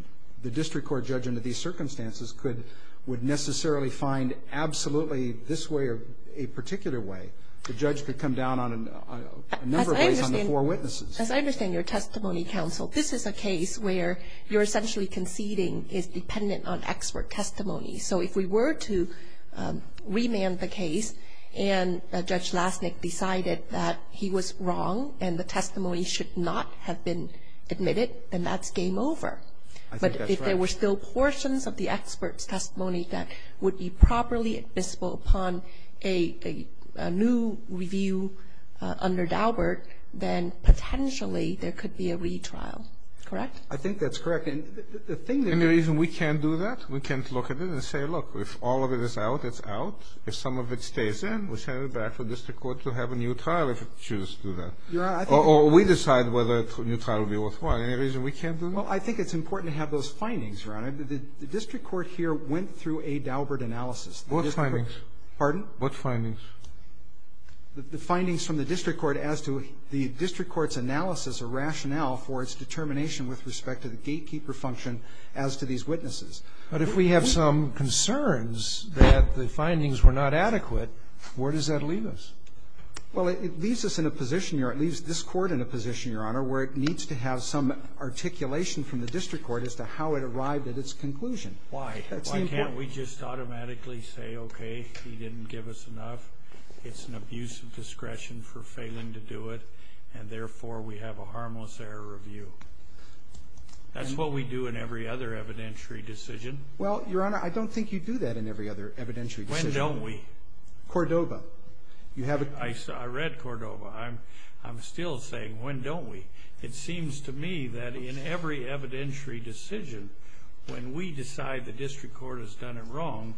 the district court judge under these circumstances could- could come down absolutely this way or a particular way. The judge could come down on a number of ways on the four witnesses. As I understand- As I understand your testimony, Counsel, this is a case where you're essentially conceding is dependent on expert testimony. So if we were to remand the case and Judge Lasnik decided that he was wrong and the testimony should not have been admitted, then that's game over. I think that's right. But if there were still portions of the expert's testimony that would be admissible upon a- a new review under Daubert, then potentially there could be a retrial. Correct? I think that's correct. And the thing that- Any reason we can't do that? We can't look at it and say, look, if all of it is out, it's out. If some of it stays in, we send it back to the district court to have a new trial if it chooses to do that. Your Honor, I think- Or we decide whether a new trial would be worthwhile. Any reason we can't do that? Well, I think it's important to have those findings, Your Honor. The district court here went through a Daubert analysis. What findings? Pardon? What findings? The findings from the district court as to the district court's analysis or rationale for its determination with respect to the gatekeeper function as to these witnesses. But if we have some concerns that the findings were not adequate, where does that leave us? Well, it leaves us in a position, Your Honor. It leaves this court in a position, Your Honor, where it needs to have some articulation from the district court as to how it arrived at its conclusion. Why? Why can't we just automatically say, okay, he didn't give us enough, it's an abuse of discretion for failing to do it, and therefore we have a harmless error review? That's what we do in every other evidentiary decision. Well, Your Honor, I don't think you do that in every other evidentiary decision. When don't we? Cordova. You have a- I read Cordova. I'm still saying, when don't we? It seems to me that in every evidentiary decision, when we decide the district court has done it wrong,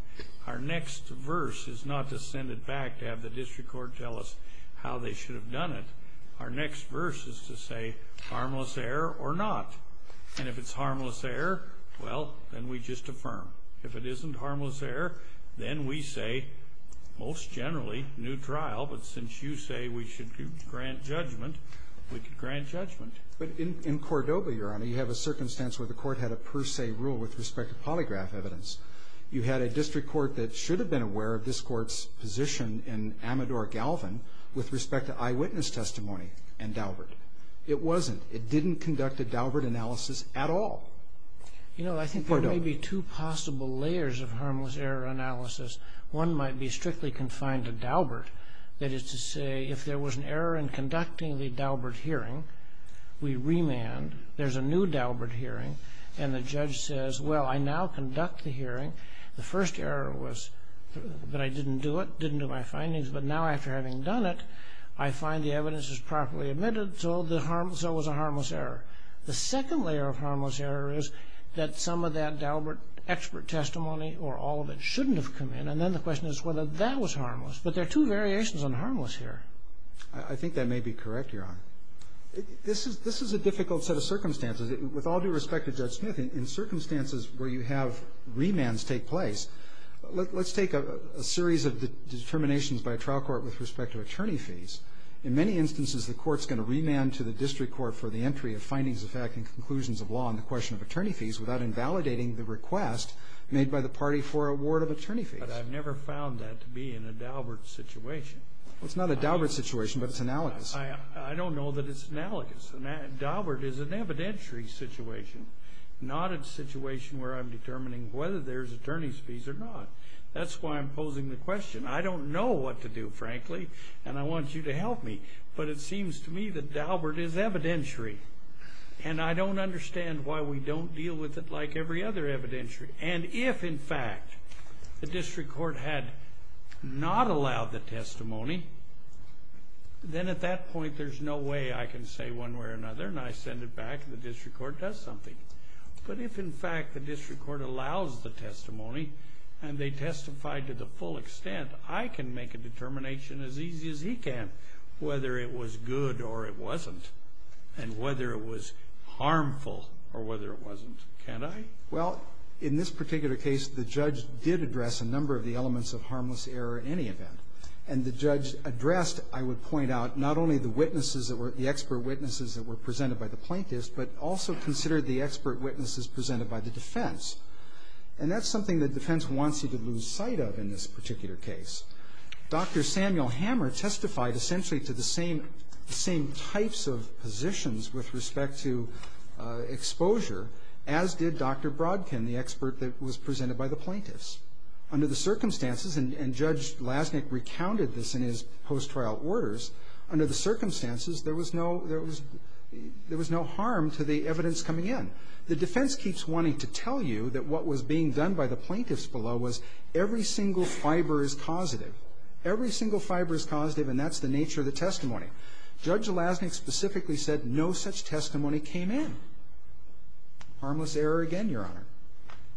our next verse is not to send it back to have the district court tell us how they should have done it. Our next verse is to say harmless error or not. And if it's harmless error, well, then we just affirm. If it isn't harmless error, then we say, most generally, new trial, but since you say we should grant judgment, we could grant judgment. But in Cordova, Your Honor, you have a circumstance where the court had a per se rule with respect to polygraph evidence. You had a district court that should have been aware of this court's position in Amador Galvin with respect to eyewitness testimony and Daubert. It wasn't. It didn't conduct a Daubert analysis at all. You know, I think there may be two possible layers of harmless error analysis. One might be strictly confined to Daubert. That is to say, if there was an error in conducting the Daubert hearing, we remand. There's a new Daubert hearing and the judge says, well, I now conduct the hearing. The first error was that I didn't do it, didn't do my findings, but now after having done it, I find the evidence is properly admitted, so it was a harmless error. The second layer of harmless error is that some of that Daubert expert testimony or all of it shouldn't have come in and then the question is whether that was harmless. But there are two variations on harmless error. I think that may be correct, Your Honor. This is a difficult set of circumstances. With all due respect to Judge Smith, in circumstances where you have remands take place, let's take a series of determinations by a trial court with respect to attorney fees. In many instances the court's going to remand to the district court for the entry of findings of fact and conclusions of law on the question of attorney fees without invalidating the request made by the party for award of attorney fees. But I've never found that to be in a Daubert situation. It's not a Daubert situation, but it's analogous. I don't know that it's analogous. And Daubert is an evidentiary situation. Not a situation where I'm determining whether there's attorney fees or not. That's why I'm posing the question. I don't know what to do, frankly. And I want you to help me. But it seems to me that Daubert is evidentiary. And I don't understand why we don't deal with it like every other evidentiary. And if, in fact, the district court had not allowed the testimony, then at that point there's no way I can say one way or another and I send it back and the district court does something. But if, in fact, the district court allows the testimony and they testify to the full extent, I can make a determination as easy as he can whether it was good or it wasn't and whether it was harmful or whether it wasn't. Can't I? Well, in this particular case, the judge did address a number of the elements of harmless error in any event. And the judge addressed, I would point out, not only the witnesses that were, the expert witnesses that were presented by the plaintiffs, but also considered the expert witnesses presented by the defense. And that's something the defense wants you to lose sight of in this particular case. Dr. Samuel Hammer testified essentially to the same types of positions with respect to exposure as did Dr. Brodkin, the expert that was presented by the plaintiffs. Under the circumstances, and Judge Lasnik recounted this in his post-trial orders, under the circumstances, there was no, there was no harm to the evidence coming in. The defense keeps wanting to tell you that what was being done by the plaintiffs below was every single fiber is causative. Every single fiber is causative and that's the nature of the testimony. Judge Lasnik specifically said no such testimony came in. Harmless error again, Your Honor.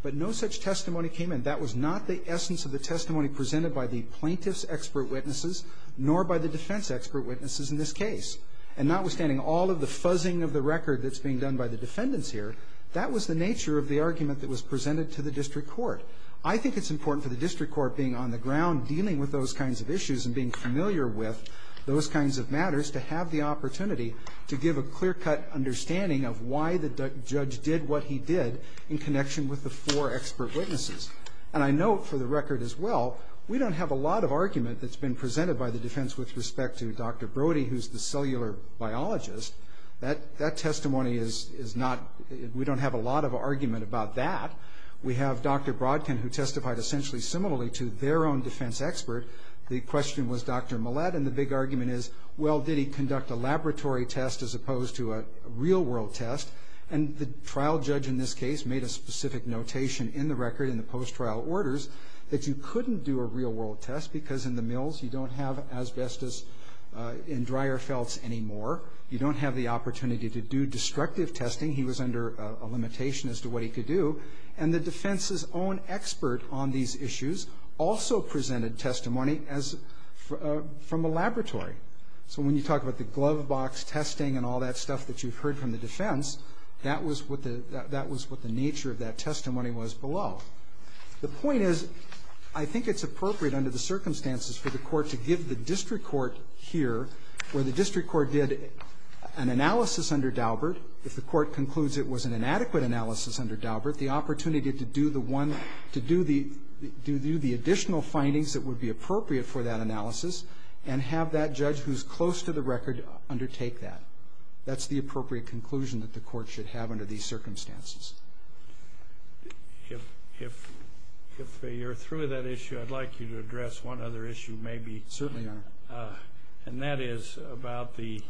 But no such testimony came in. That was not the essence of the testimony presented by the plaintiffs' expert witnesses nor by the defense expert witnesses in this case. And notwithstanding all of the fuzzing of the record that's being done by the defendants here, that was the nature of the argument that was presented to the district court. I think it's important for the district court being on the ground dealing with those kinds of issues and being familiar with those kinds of matters to have the opportunity to give a clear-cut understanding of why the judge did what he did in connection with the four expert witnesses. And I note for the record as well, we don't have a lot of argument that's been presented by the defense with respect to Dr. Brody who's the cellular biologist. That testimony is not, we don't have a lot of argument about that. We have Dr. Brodkin who testified essentially similarly to their own defense expert. The question was Dr. Millett and the big argument is, well, did he conduct a laboratory test as opposed to a real-world test? And the trial judge in this case made a specific notation in the record in the post-trial orders that you couldn't do a real-world test because in the mills you don't have asbestos in dryer felts anymore. You don't have the opportunity to do destructive testing. He was under a limitation as to what he could do. And the defense's own expert on these issues also presented testimony from a laboratory. So when you talk about the glove box testing and all that stuff that you've heard from the defense, that was what the nature of that testimony was below. The point is I think it's appropriate under the circumstances for the court to give the district court here where the district court did an analysis under Daubert if the court concludes it was an inadequate analysis under Daubert the opportunity to do the one to do the additional findings that would be appropriate for that analysis and have that judge who's close to the record undertake that. That's the appropriate conclusion that the court should have under these circumstances. If you're through with that issue I'd like you to address one other issue maybe. Certainly. And that is about the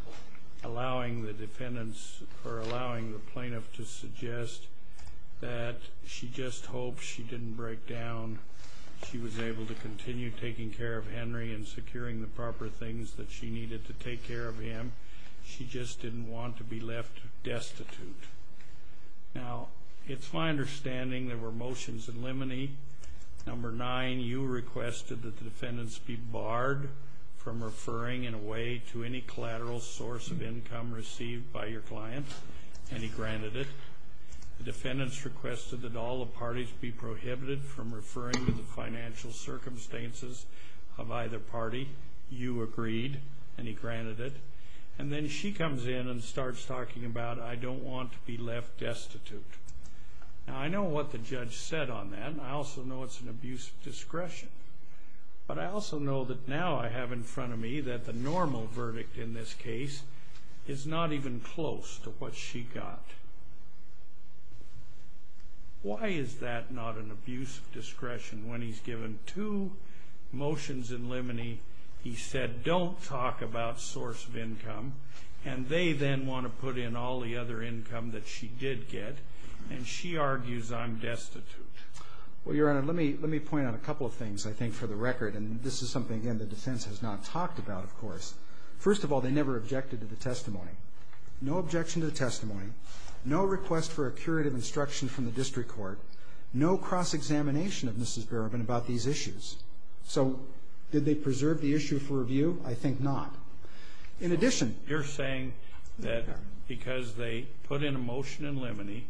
allowing the defendants or allowing the plaintiff to suggest that she just hoped she didn't break down. She was able to continue taking care of Henry and securing the proper things that she needed to take care of him. She just didn't want to be left destitute. Now it's my understanding there were motions in limine. Number nine you requested that the defendants be barred from referring in a way to any collateral source of income received by your client and he granted it. The defendants requested that all the parties be prohibited from referring to the financial circumstances of either party. You agreed and he granted it. And then she comes in and starts talking about I don't want to be left destitute. Now I know what the judge said on that and I also know it's an abuse of discretion. But I also know that now I have in front of me that the normal verdict in this case is not even close to what she got. Why is that not an abuse of discretion when he's given two motions in limine he said don't talk about source of income and they then want to put in all the other income that she did get and she argues I'm destitute. Well your honor let me point out a couple of things I think for the record and this is something again the defense has not talked about of course. First of all they never objected to the testimony. No objection to the testimony. No request for a curative instruction from the district court. No cross examination of Mrs. Berubin about these issues. So did they preserve the issue for review? I think not. In addition you're saying that because they put in a motion in limine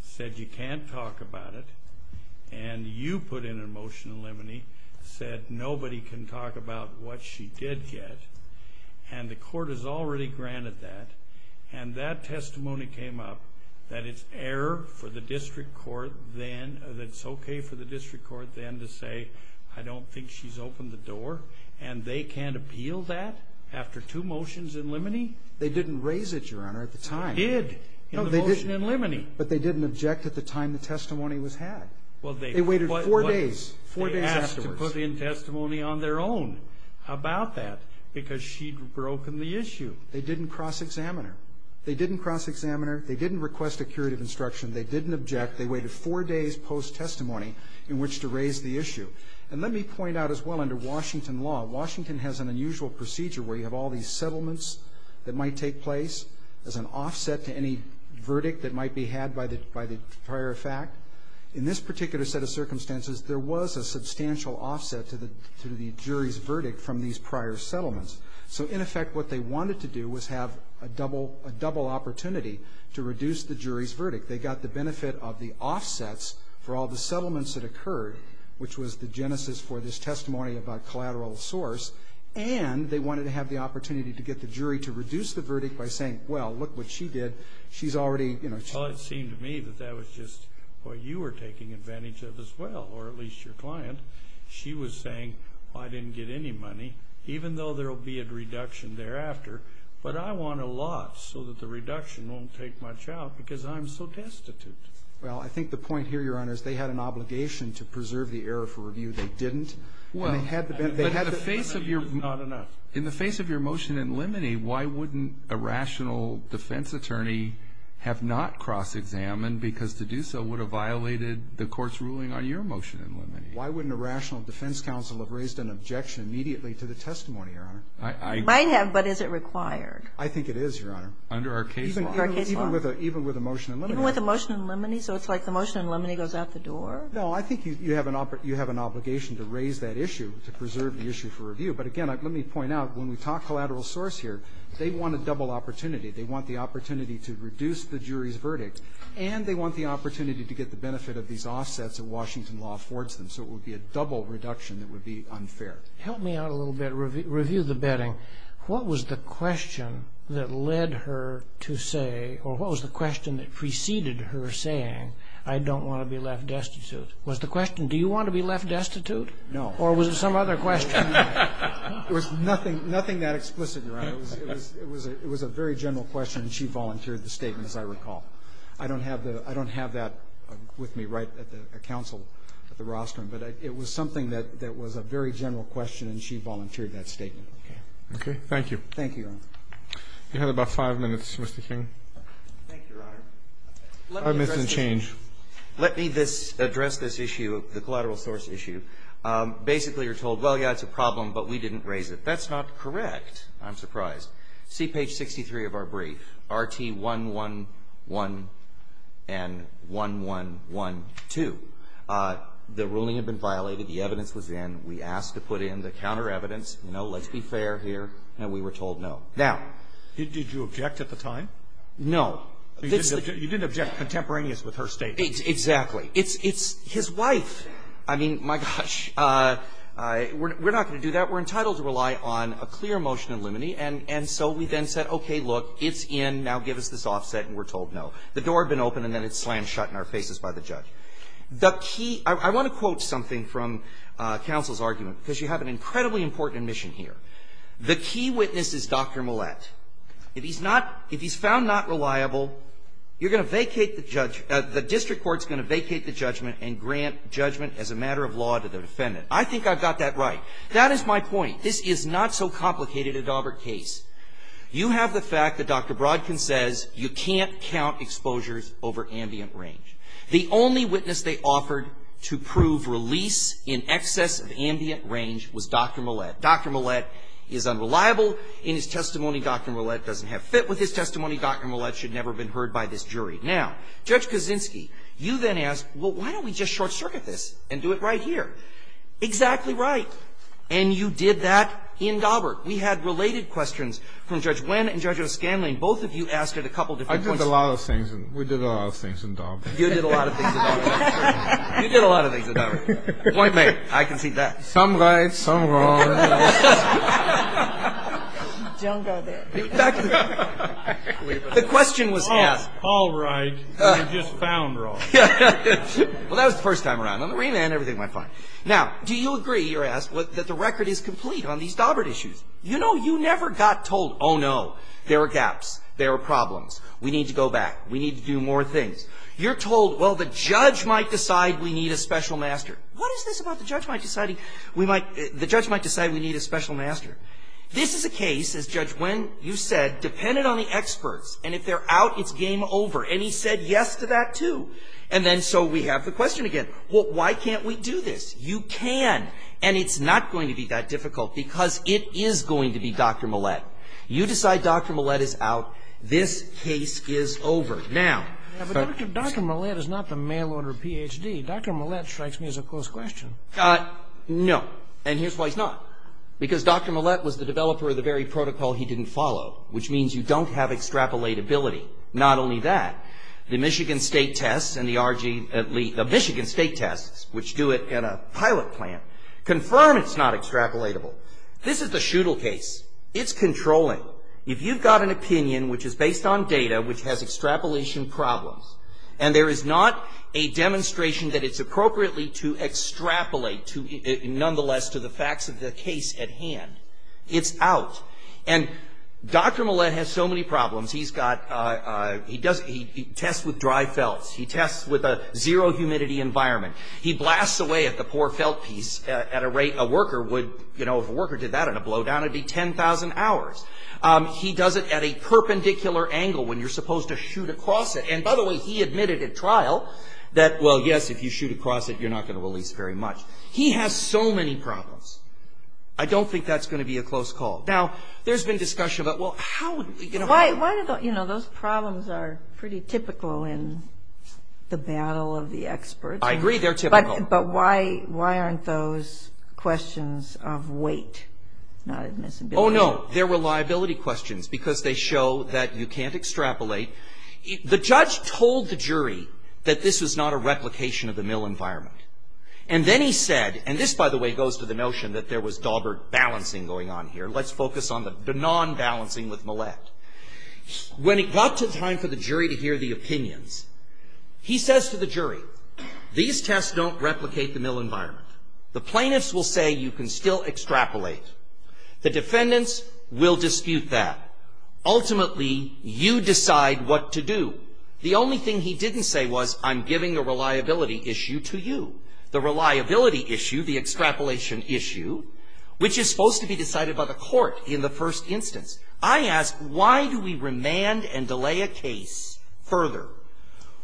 said you can't talk about it and you put in a motion in limine said nobody can talk about what she did get and the court has already granted that and that testimony came up that it's error for the district court then that it's okay for the district court then to say I don't think she's opened the door and they can't appeal that after two motions in limine? They didn't raise it your honor at the time. They did in the motion in limine. But they didn't object at the time the testimony was had. They waited four days. They asked to put in testimony on their own about that because she'd broken the issue. They didn't cross examine her. They didn't cross examine her. They didn't request a curative instruction. They didn't object. They waited four days post testimony in which to raise the issue. And let me point out as well under Washington law Washington has an unusual procedure where you have all these settlements that might take place as an offset to any verdict that might be had by the prior fact. In this particular set of circumstances there was a substantial offset to the jury's verdict from these prior settlements. So in effect what they wanted to do was have a double opportunity to reduce the jury's verdict. They got the benefit of the offsets for all the settlements that occurred which was the genesis for this testimony about collateral source and they wanted to have the opportunity to get the jury to reduce the verdict by saying well look what she did. She's already Well it seemed to me that that was just what you were taking advantage of as well or at least your client. She was saying well I didn't get any money even though there will be a reduction thereafter but I want a lot so that the reduction won't take much out because I'm so destitute. Well I think the point here Your Honor is they had an obligation to preserve the error for review they didn't and they had the benefit In the face of your motion in limine why wouldn't a rational defense attorney have not cross-examined because to do so would have violated the court's ruling on your motion in limine. Why wouldn't a rational defense counsel have raised an objection immediately to the testimony Your Honor? It might have but is it required? I think it is Your Honor. Under our case law. Even with a motion in limine? So it's like the motion in limine goes out the door? No I think you have an obligation to raise that issue to preserve the issue for review but again let me point out when we talk collateral source here they want a double opportunity they want the opportunity to reduce the jury's verdict and they want the opportunity to get the benefit of these offsets that Washington law affords them so it would be a double reduction that would be unfair. Help me out a little bit review the betting what was the question that led her to say or what was the question that preceded her saying I don't want to be left destitute? Was the question do you want to be left destitute? No. Or was it some other question? It was nothing nothing that explicit Your Honor. It was a very general question and she volunteered the statement as I recall. I don't have that with me right at the counsel at the rostrum but it was something that was a very general question and she volunteered that statement. Okay. Thank you. Thank you Your Honor. You have about five minutes Mr. King. Thank you Your Honor. Five minutes and change. Let me address this issue the collateral source issue. Basically you're told well yeah it's a problem but we didn't raise it. That's not correct. I'm surprised. See page 63 of our brief RT 111 and 1112. The ruling had been violated. The evidence was in. We asked to put in the counter evidence let's be fair here and we were told no. Now. Did you object at the time? No. You didn't object contemporaneous with her statement. Exactly. It's his wife. I mean my gosh we're not going to do that. We're entitled to rely on a clear motion in limine and so we then said okay look it's in now give us this offset and we're told no. The door had been open and then it slammed shut in our faces by the judge. I want to quote something from counsel's argument because you have an incredibly important admission here. The key witness is Dr. Mollett. If he's not if he's found not reliable you're going to vacate the judge the district court's going to vacate the judgment and grant judgment as a matter of law to the defendant. I think I've got that right. That is my point. This is not so complicated a Daubert case. You have the fact that Dr. Brodkin says you can't count exposures over ambient range. The only witness they offered to prove release in excess of ambient range was Dr. Mollett. Dr. Mollett is unreliable. In his testimony Dr. Mollett doesn't have fit with his testimony. Dr. Mollett should never have been heard by this jury. Now, Judge Kaczynski you then ask well why don't we just short circuit this and do it right here. Exactly right. And you did that in Daubert. We had related Nguyen and Judge O'Scanlan. Both of you asked at a couple of different points. I did a lot of things. We did a lot of things in Daubert. You did a lot of things in Daubert. You did a lot of things in Daubert. Point made. I can see that. Some right, some wrong. Don't go there. The question was asked. All right. You just found wrong. Well that was the first time around. On the remand everything went fine. Now, do you agree you're asked that the record is complete on these Daubert issues? You know you never got told oh no, there are gaps, there are gaps. You never got told well the judge might decide we need a special master. What is this about the judge might decide we need a special master? This is a case as Judge Nguyen you said depended on the experts. And if they're out it's game over. And he said yes to that too. And then so we have the question again. Why can't we do this? You can. And it's not going to be that difficult because it is going to be Dr. Millett. You decide Dr. Millett is out this case is over. Now. But Dr. Millett is not the mail order Ph.D. Dr. Millett strikes me as a close question. No. And here's why he's not. Because Dr. Millett was the developer of the very protocol he didn't follow. Which means you don't have extrapolatability. Not only that the Michigan State tests and the Michigan State tests confirm it's not extrapolatable. This is the Schuttle case. It's controlling. If you've got an opinion which is based on data which has extrapolation problems and there is not a demonstration that it's appropriately to extrapolate nonetheless to the facts of the case at hand it's out. And Dr. Millett has so many problems. He's got he does he tests with dry felt he tests with a zero humidity environment he blasts away at the poor felt piece at a rate a worker would you know if a worker did that in a blowdown it'd be 10,000 hours. He does it at a perpendicular angle when you're supposed to shoot across it. And by the way he admitted at trial that well yes if you shoot across it you're not going to release very much. He has so many problems. I don't think that's going to be a close call. Now there's been discussion about well how you know those problems are pretty typical in the battle of the experts I agree they're typical. But why why aren't those questions of weight not admissibility? Oh no they're reliability questions because they show that you can't extrapolate. The judge told the jury that this was not a replication of the Mill environment. And then he said and this by the way goes to the notion that there was dauber balancing going on here. Let's focus on the non-balancing with Millett. When it got to the time for the jury to hear the opinions he says to the jury these tests don't replicate the Mill environment. The plaintiffs will say you can still extrapolate. The defendants will dispute that. Ultimately you decide what to do. The only thing he didn't say was I'm giving a reliability issue to you. The reliability issue is supposed to give you the extrapolation issue which is supposed to be decided by the court in the first instance. I ask why do we remand and delay a case further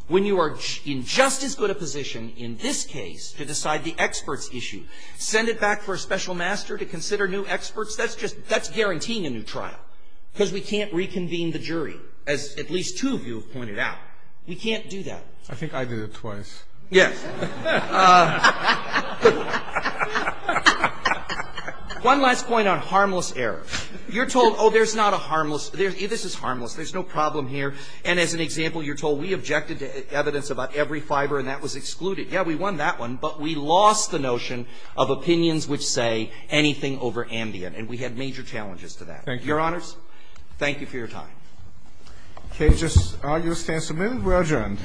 when you are in just as good a position in this case to decide the experts issue. Send it back for a special master to consider new experts. That's just that's guaranteeing a new trial. Because we can't reconvene the jury as at least two of you have pointed out. We can't do that. I think I did it twice. Yes. One last point on harmless errors. You're told oh there's not a harmless this is harmless there's no problem here and as an example you're told we objected to evidence about every fiber and that was excluded. Yeah we won that one but we lost the notion of opinions which say anything over ambient and we had major challenges to that. Thank you. Your honors thank you for your time. Okay just all those in support we're adjourned.